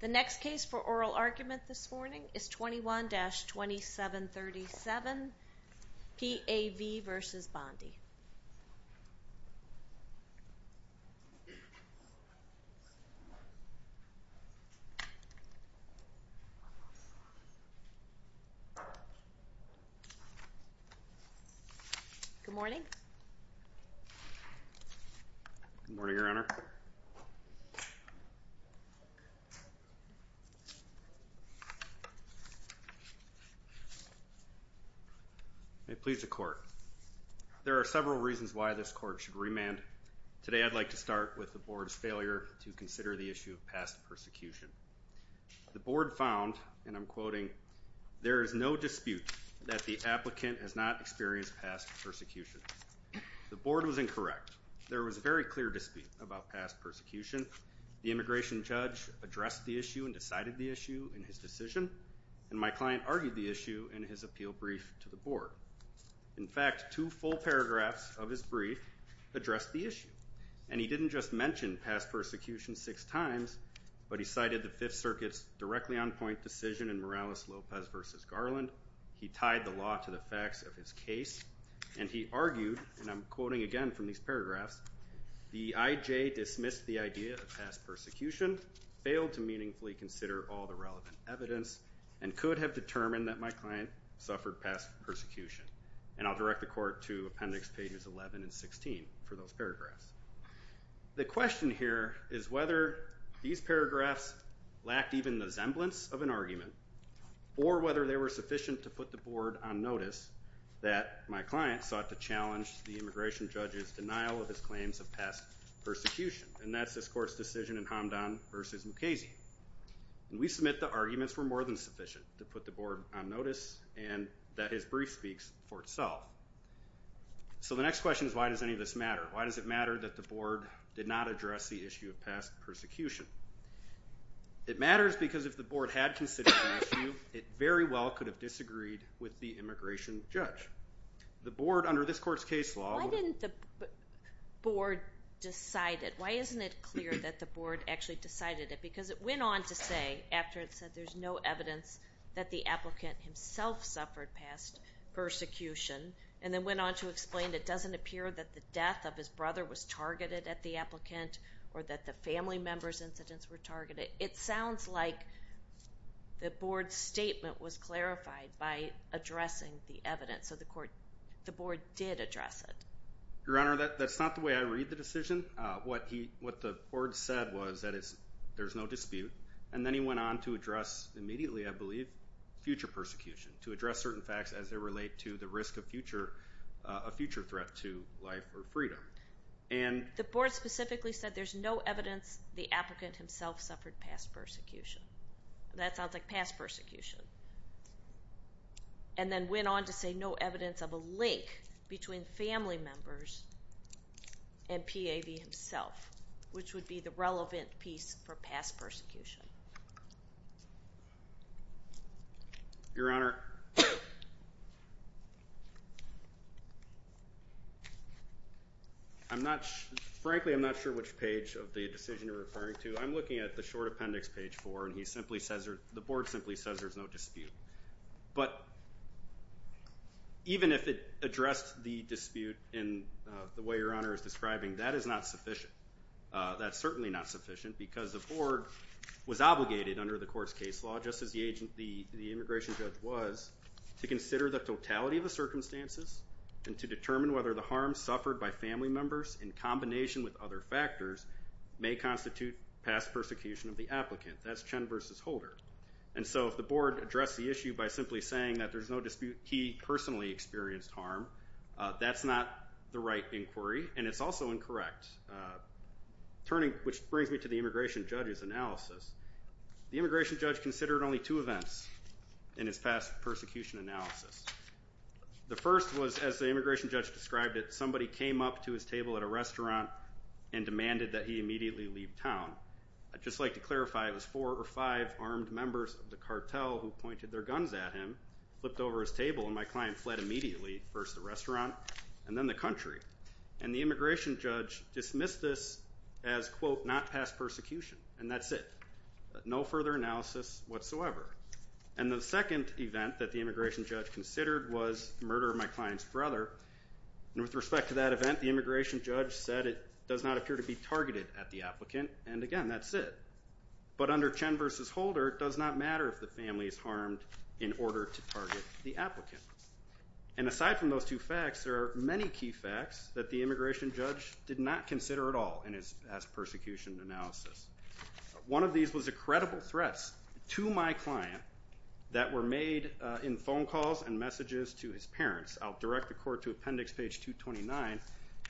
The next case for oral argument this morning is 21-2737 P.A.V. v. Bondi. Good morning. Good morning, Your Honor. May it please the Court. There are several reasons why this Court should remand. Today I'd like to start with the Board's failure to consider the issue of past persecution. The Board found, and I'm quoting, There is no dispute that the applicant has not experienced past persecution. The Board was incorrect. There was a very clear dispute about past persecution. The immigration judge addressed the issue and decided the issue in his decision. And my client argued the issue in his appeal brief to the Board. In fact, two full paragraphs of his brief addressed the issue. And he didn't just mention past persecution six times, but he cited the Fifth Circuit's directly on point decision in Morales-Lopez v. Garland. He tied the law to the facts of his case. And he argued, and I'm quoting again from these paragraphs, The I.J. dismissed the idea of past persecution, failed to meaningfully consider all the relevant evidence, and could have determined that my client suffered past persecution. And I'll direct the Court to Appendix Pages 11 and 16 for those paragraphs. The question here is whether these paragraphs lacked even the semblance of an argument or whether they were sufficient to put the Board on notice that my client sought to challenge the immigration judge's denial of his claims of past persecution. And that's this Court's decision in Hamdan v. Mukasey. And we submit the arguments were more than sufficient to put the Board on notice and that his brief speaks for itself. So the next question is why does any of this matter? Why does it matter that the Board did not address the issue of past persecution? It matters because if the Board had considered the issue, it very well could have disagreed with the immigration judge. The Board, under this Court's case law... Why didn't the Board decide it? Why isn't it clear that the Board actually decided it? Because it went on to say after it said there's no evidence that the applicant himself suffered past persecution and then went on to explain it doesn't appear that the death of his brother was targeted at the applicant or that the family member's incidents were targeted. It sounds like the Board's statement was clarified by addressing the evidence of the Court. The Board did address it. Your Honor, that's not the way I read the decision. What the Board said was that there's no dispute and then he went on to address immediately, I believe, future persecution to address certain facts as they relate to the risk of a future threat to life or freedom. The Board specifically said there's no evidence the applicant himself suffered past persecution. That sounds like past persecution. And then went on to say no evidence of a link between family members and PAV himself, which would be the relevant piece for past persecution. Your Honor... Frankly, I'm not sure which page of the decision you're referring to. I'm looking at the short appendix, page four, and the Board simply says there's no dispute. But even if it addressed the dispute in the way Your Honor is describing, that is not sufficient. That's certainly not sufficient because the Board was obligated under the Court's case law, just as the immigration judge was, to consider the totality of the circumstances and to determine whether the harm suffered by family members in combination with other factors may constitute past persecution of the applicant. That's Chen versus Holder. And so if the Board addressed the issue by simply saying that there's no dispute he personally experienced harm, that's not the right inquiry and it's also incorrect, which brings me to the immigration judge's analysis. The immigration judge considered only two events in his past persecution analysis. The first was, as the immigration judge described it, somebody came up to his table at a restaurant and demanded that he immediately leave town. I'd just like to clarify, it was four or five armed members of the cartel who pointed their guns at him, flipped over his table, and my client fled immediately, first the restaurant and then the country. And the immigration judge dismissed this as, quote, not past persecution, and that's it. No further analysis whatsoever. And the second event that the immigration judge considered was the murder of my client's brother. With respect to that event, the immigration judge said it does not appear to be targeted at the applicant, and again, that's it. But under Chen versus Holder, it does not matter if the family is harmed in order to target the applicant. And aside from those two facts, there are many key facts that the immigration judge did not consider at all in his past persecution analysis. One of these was the credible threats to my client that were made in phone calls and messages to his parents. I'll direct the court to appendix page 229,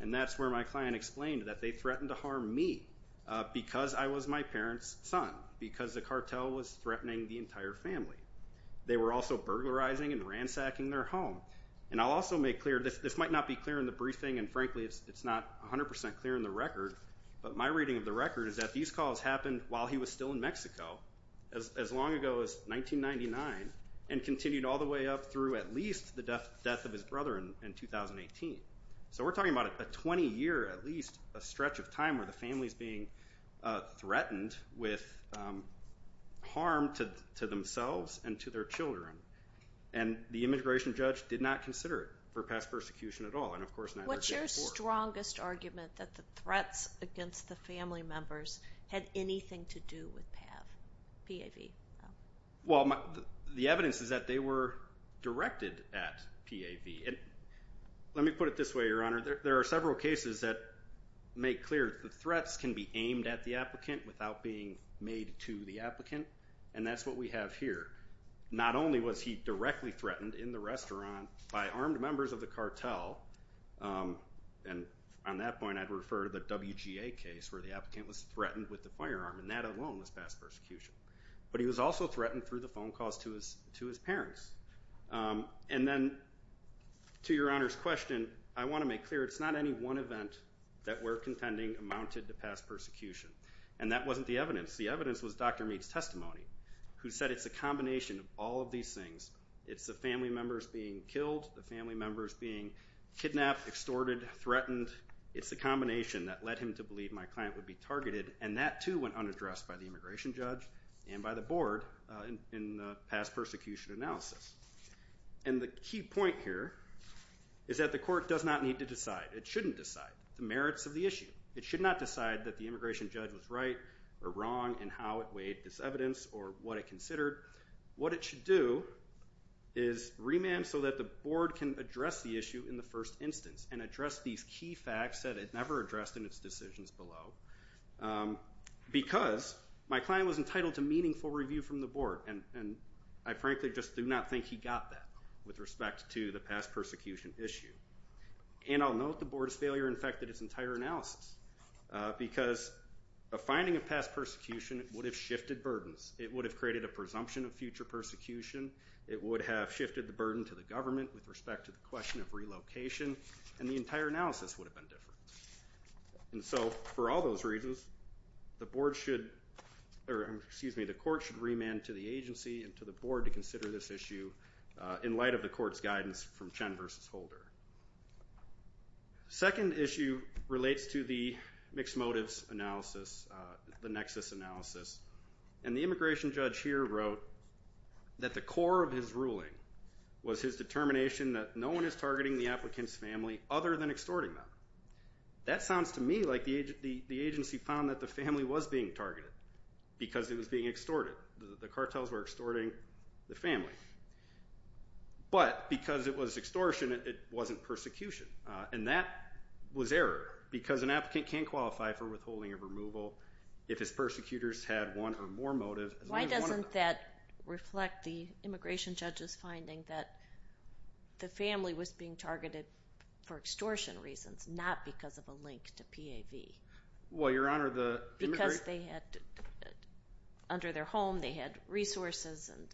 and that's where my client explained that they threatened to harm me because I was my parent's son, because the cartel was threatening the entire family. They were also burglarizing and ransacking their home. And I'll also make clear, this might not be clear in the briefing, and frankly, it's not 100% clear in the record, but my reading of the record is that these calls happened while he was still in Mexico, as long ago as 1999, and continued all the way up through at least the death of his brother in 2018. So we're talking about a 20-year, at least, stretch of time where the family's being threatened with harm to themselves and to their children. And the immigration judge did not consider it for past persecution at all, and of course, neither did the court. What was the strongest argument that the threats against the family members had anything to do with PAV? Well, the evidence is that they were directed at PAV. Let me put it this way, Your Honor. There are several cases that make clear the threats can be aimed at the applicant without being made to the applicant, and that's what we have here. Not only was he directly threatened in the restaurant by armed members of the cartel, and on that point I'd refer to the WGA case where the applicant was threatened with the firearm, and that alone was past persecution. But he was also threatened through the phone calls to his parents. And then, to Your Honor's question, I want to make clear, it's not any one event that we're contending amounted to past persecution, and that wasn't the evidence. The evidence was Dr. Meade's testimony, who said it's a combination of all of these things. It's the family members being killed, the family members being kidnapped, extorted, threatened. It's the combination that led him to believe my client would be targeted, and that too went unaddressed by the immigration judge and by the board in the past persecution analysis. And the key point here is that the court does not need to decide. It shouldn't decide the merits of the issue. It should not decide that the immigration judge was right or wrong in how it weighed this evidence or what it considered. What it should do is remand so that the board can address the issue in the first instance and address these key facts that it never addressed in its decisions below. Because my client was entitled to meaningful review from the board, and I frankly just do not think he got that with respect to the past persecution issue. And I'll note the board's failure affected its entire analysis because a finding of past persecution would have shifted burdens. It would have created a presumption of future persecution. It would have shifted the burden to the government with respect to the question of relocation, and the entire analysis would have been different. And so for all those reasons, the board should, or excuse me, the court should remand to the agency and to the board to consider this issue in light of the court's guidance from Chen versus Holder. The second issue relates to the mixed motives analysis, the nexus analysis. And the immigration judge here wrote that the core of his ruling was his determination that no one is targeting the applicant's family other than extorting them. That sounds to me like the agency found that the family was being targeted because it was being extorted. The cartels were extorting the family. But because it was extortion, it wasn't persecution. And that was error because an applicant can qualify for withholding or removal if his persecutors had one or more motives. Why doesn't that reflect the immigration judge's finding that the family was being targeted for extortion reasons, not because of a link to PAV? Well, Your Honor, the immigration judge... Because they had, under their home, they had resources and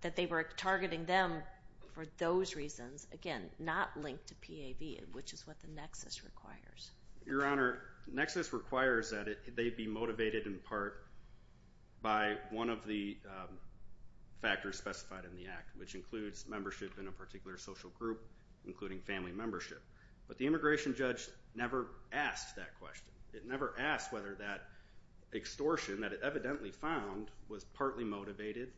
that they were targeting them for those reasons. Again, not linked to PAV, which is what the nexus requires. Your Honor, the nexus requires that they be motivated in part by one of the factors specified in the act, which includes membership in a particular social group, including family membership. But the immigration judge never asked that question. It never asked whether that extortion that it evidently found was partly motivated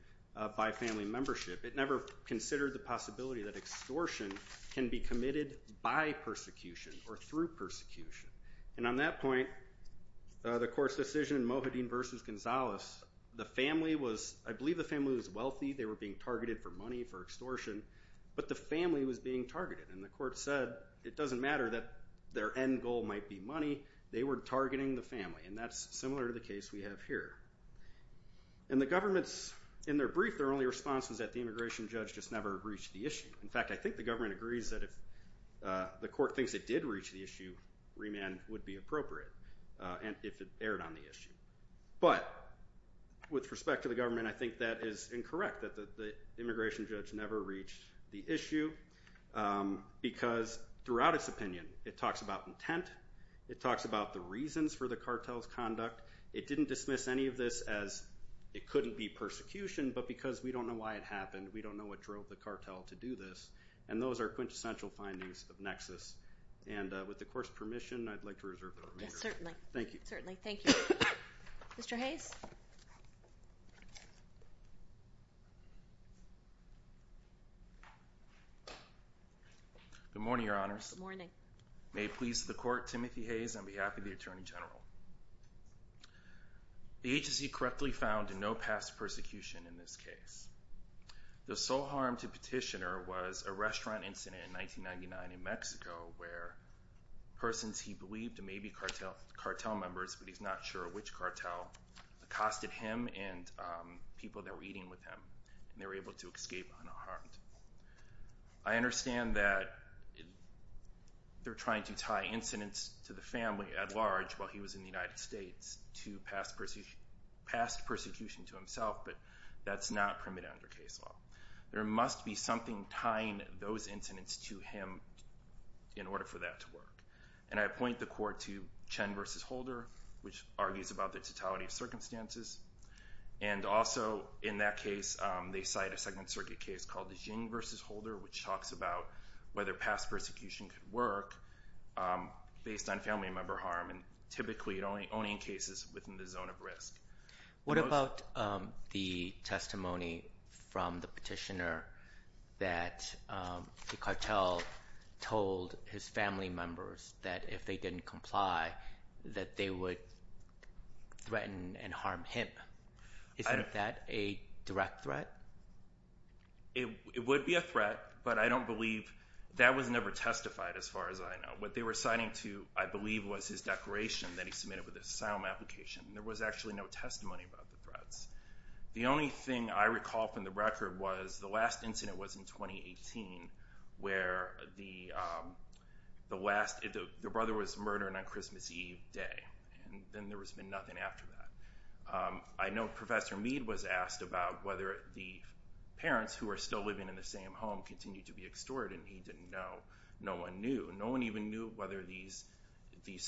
by family membership. It never considered the possibility that extortion can be committed by persecution or through persecution. And on that point, the court's decision in Mojadin v. Gonzalez, the family was, I believe the family was wealthy, they were being targeted for money, for extortion, but the family was being targeted. And the court said it doesn't matter that their end goal might be money, they were targeting the family. And that's similar to the case we have here. And the government's, in their brief, their only response was that the immigration judge just never reached the issue. In fact, I think the government agrees that if the court thinks it did reach the issue, remand would be appropriate, if it erred on the issue. But with respect to the government, I think that is incorrect, that the immigration judge never reached the issue. Because throughout its opinion, it talks about intent, it talks about the reasons for the cartel's conduct. It didn't dismiss any of this as it couldn't be persecution, but because we don't know why it happened, we don't know what drove the cartel to do this. And those are quintessential findings of Nexus. And with the court's permission, I'd like to reserve the remainder. Yes, certainly. Thank you. Certainly, thank you. Mr. Hayes? Good morning, Your Honors. Good morning. May it please the Court, Timothy Hayes on behalf of the Attorney General. The agency correctly found no past persecution in this case. The sole harm to Petitioner was a restaurant incident in 1999 in Mexico where persons he believed may be cartel members, but he's not sure which cartel, accosted him and people that were eating with him, and they were able to escape unharmed. I understand that they're trying to tie incidents to the family at large while he was in the United States to past persecution to himself, but that's not permitted under case law. There must be something tying those incidents to him in order for that to work. And I appoint the Court to Chen v. Holder, which argues about the totality of circumstances. And also, in that case, they cite a Second Circuit case called Jing v. Holder, which talks about whether past persecution could work based on family member harm and typically only in cases within the zone of risk. What about the testimony from the Petitioner that the cartel told his family members that if they didn't comply that they would threaten and harm him? Isn't that a direct threat? It would be a threat, but I don't believe that was never testified as far as I know. What they were citing to, I believe, was his declaration that he submitted with an asylum application. There was actually no testimony about the threats. The only thing I recall from the record was the last incident was in 2018 where the brother was murdered on Christmas Eve day, and then there was nothing after that. I know Professor Mead was asked about whether the parents, who were still living in the same home, continued to be extorted, and he didn't know. No one knew. No one even knew whether these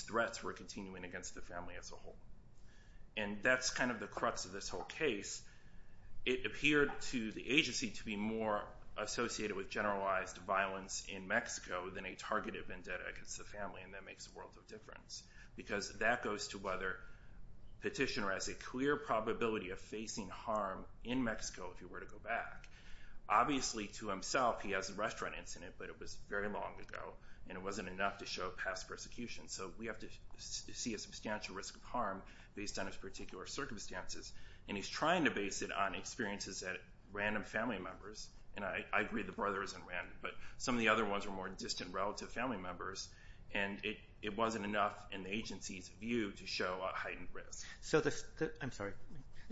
threats were continuing against the family as a whole. And that's kind of the crux of this whole case. It appeared to the agency to be more associated with generalized violence in Mexico than a targeted vendetta against the family, and that makes a world of difference because that goes to whether Petitioner has a clear probability of facing harm in Mexico if he were to go back. Obviously, to himself, he has a restaurant incident, but it was very long ago, and it wasn't enough to show past persecution, so we have to see a substantial risk of harm based on his particular circumstances. And he's trying to base it on experiences that random family members, and I agree the brother isn't random, but some of the other ones were more distant relative family members, and it wasn't enough in the agency's view to show a heightened risk. I'm sorry.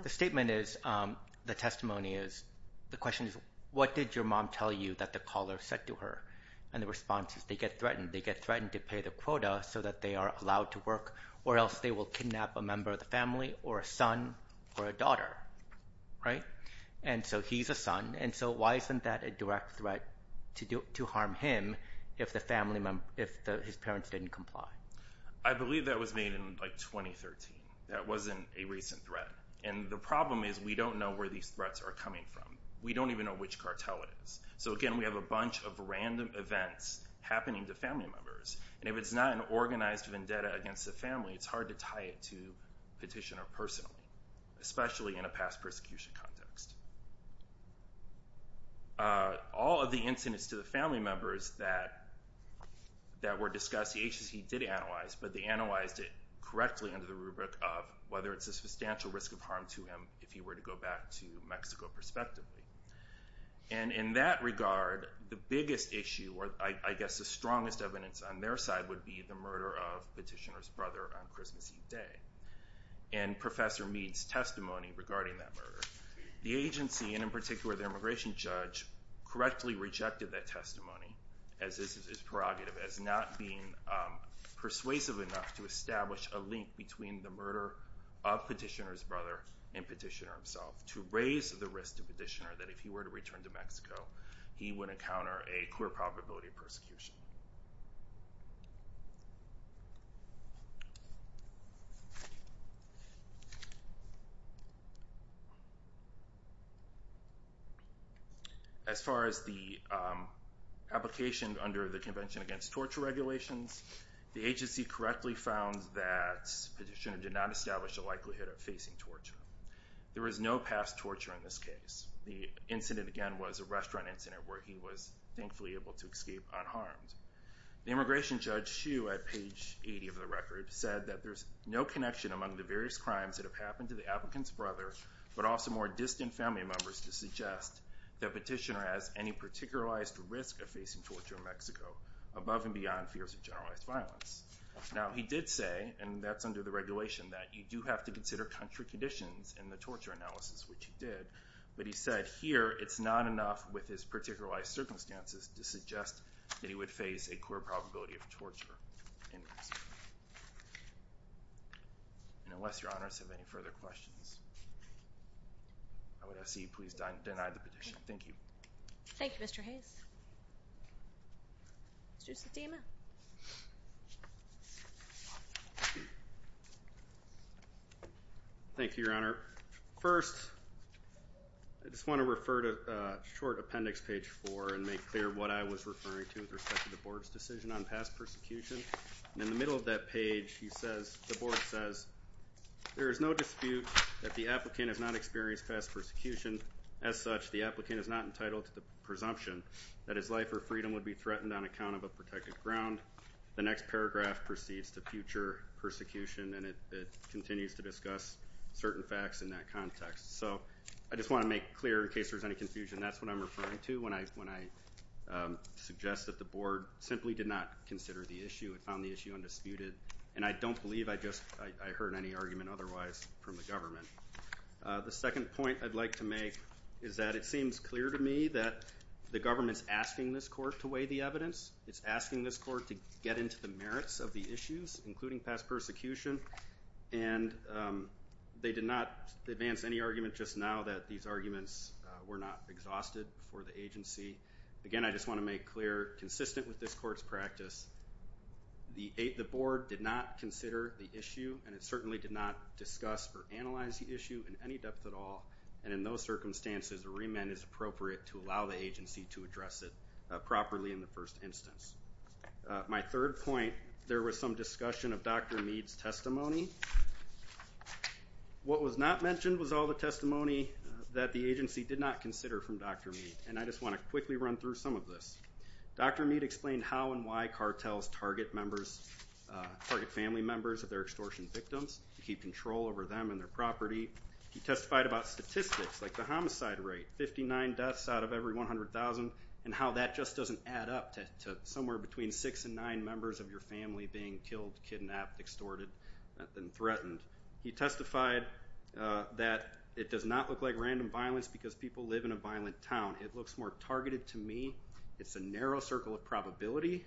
The statement is, the testimony is, the question is, what did your mom tell you that the caller said to her? And the response is, they get threatened. They get threatened to pay the quota so that they are allowed to work or else they will kidnap a member of the family or a son or a daughter, right? And so he's a son, and so why isn't that a direct threat to harm him if his parents didn't comply? I believe that was made in, like, 2013. That wasn't a recent threat. And the problem is we don't know where these threats are coming from. We don't even know which cartel it is. So, again, we have a bunch of random events happening to family members, and if it's not an organized vendetta against the family, it's hard to tie it to petitioner personally, especially in a past persecution context. All of the incidents to the family members that were discussed, the agency did analyze, but they analyzed it correctly under the rubric of whether it's a substantial risk of harm to him if he were to go back to Mexico, perspectively. And in that regard, the biggest issue, or I guess the strongest evidence on their side, would be the murder of Petitioner's brother on Christmas Eve day. And Professor Mead's testimony regarding that murder. The agency, and in particular the immigration judge, correctly rejected that testimony, as this is prerogative, as not being persuasive enough to establish a link between the murder of Petitioner's brother and Petitioner himself to raise the risk to Petitioner that if he were to return to Mexico, he would encounter a clear probability of persecution. As far as the application under the Convention Against Torture Regulations, the agency correctly found that Petitioner did not establish a likelihood of facing torture. There was no past torture in this case. The incident, again, was a restaurant incident where he was thankfully able to escape unharmed. The immigration judge, Hsu, at page 80 of the record, said that there's no connection among the various crimes that have happened to the applicant's brother, but also more distant family members, to suggest that Petitioner has any particularized risk of facing torture in Mexico above and beyond fears of generalized violence. Now, he did say, and that's under the regulation, that you do have to consider country conditions in the torture analysis, which he did, but he said here it's not enough with his particularized circumstances to suggest that he would face a clear probability of torture in Mexico. And unless Your Honors have any further questions, I would ask that you please deny the petition. Thank you. Thank you, Mr. Hayes. Mr. Satema. Thank you, Your Honor. First, I just want to refer to short appendix page four and make clear what I was referring to with respect to the Board's decision on past persecution. In the middle of that page, the Board says, there is no dispute that the applicant has not experienced past persecution. As such, the applicant is not entitled to the presumption that his life or freedom would be threatened on account of a protected ground. The next paragraph proceeds to future persecution, and it continues to discuss certain facts in that context. So I just want to make clear, in case there's any confusion, that's what I'm referring to when I suggest that the Board simply did not consider the issue. It found the issue undisputed, and I don't believe I heard any argument otherwise from the government. The second point I'd like to make is that it seems clear to me that the government's asking this court to weigh the evidence. It's asking this court to get into the merits of the issues, including past persecution. And they did not advance any argument just now that these arguments were not exhausted for the agency. Again, I just want to make clear, consistent with this court's practice, the Board did not consider the issue, and it certainly did not discuss or analyze the issue in any depth at all. And in those circumstances, a remand is appropriate to allow the agency to address it properly in the first instance. My third point, there was some discussion of Dr. Meade's testimony. What was not mentioned was all the testimony that the agency did not consider from Dr. Meade, and I just want to quickly run through some of this. Dr. Meade explained how and why cartels target members, target family members of their extortion victims, to keep control over them and their property. He testified about statistics, like the homicide rate, 59 deaths out of every 100,000, and how that just doesn't add up to somewhere between six and nine members of your family being killed, kidnapped, extorted, and threatened. He testified that it does not look like random violence because people live in a violent town. It looks more targeted to me. It's a narrow circle of probability.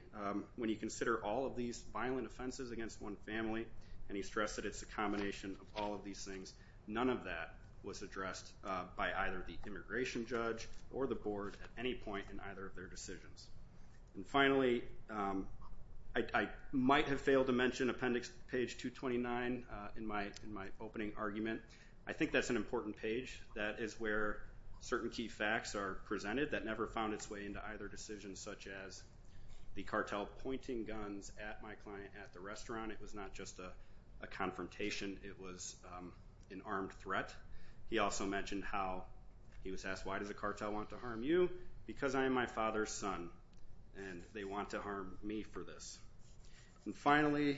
When you consider all of these violent offenses against one family, and he stressed that it's a combination of all of these things, none of that was addressed by either the immigration judge or the board at any point in either of their decisions. And finally, I might have failed to mention appendix page 229 in my opening argument. I think that's an important page. That is where certain key facts are presented that never found its way into either decision, such as the cartel pointing guns at my client at the restaurant. It was not just a confrontation. It was an armed threat. He also mentioned how he was asked, why does the cartel want to harm you? Because I am my father's son, and they want to harm me for this. And finally,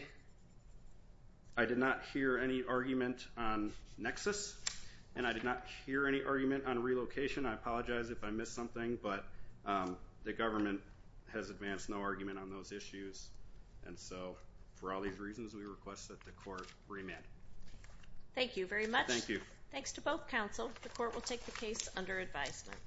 I did not hear any argument on nexus, and I did not hear any argument on relocation. I apologize if I missed something, but the government has advanced no argument on those issues. And so for all these reasons, we request that the court remand. Thank you very much. Thank you. Thanks to both counsel. The court will take the case under advisement.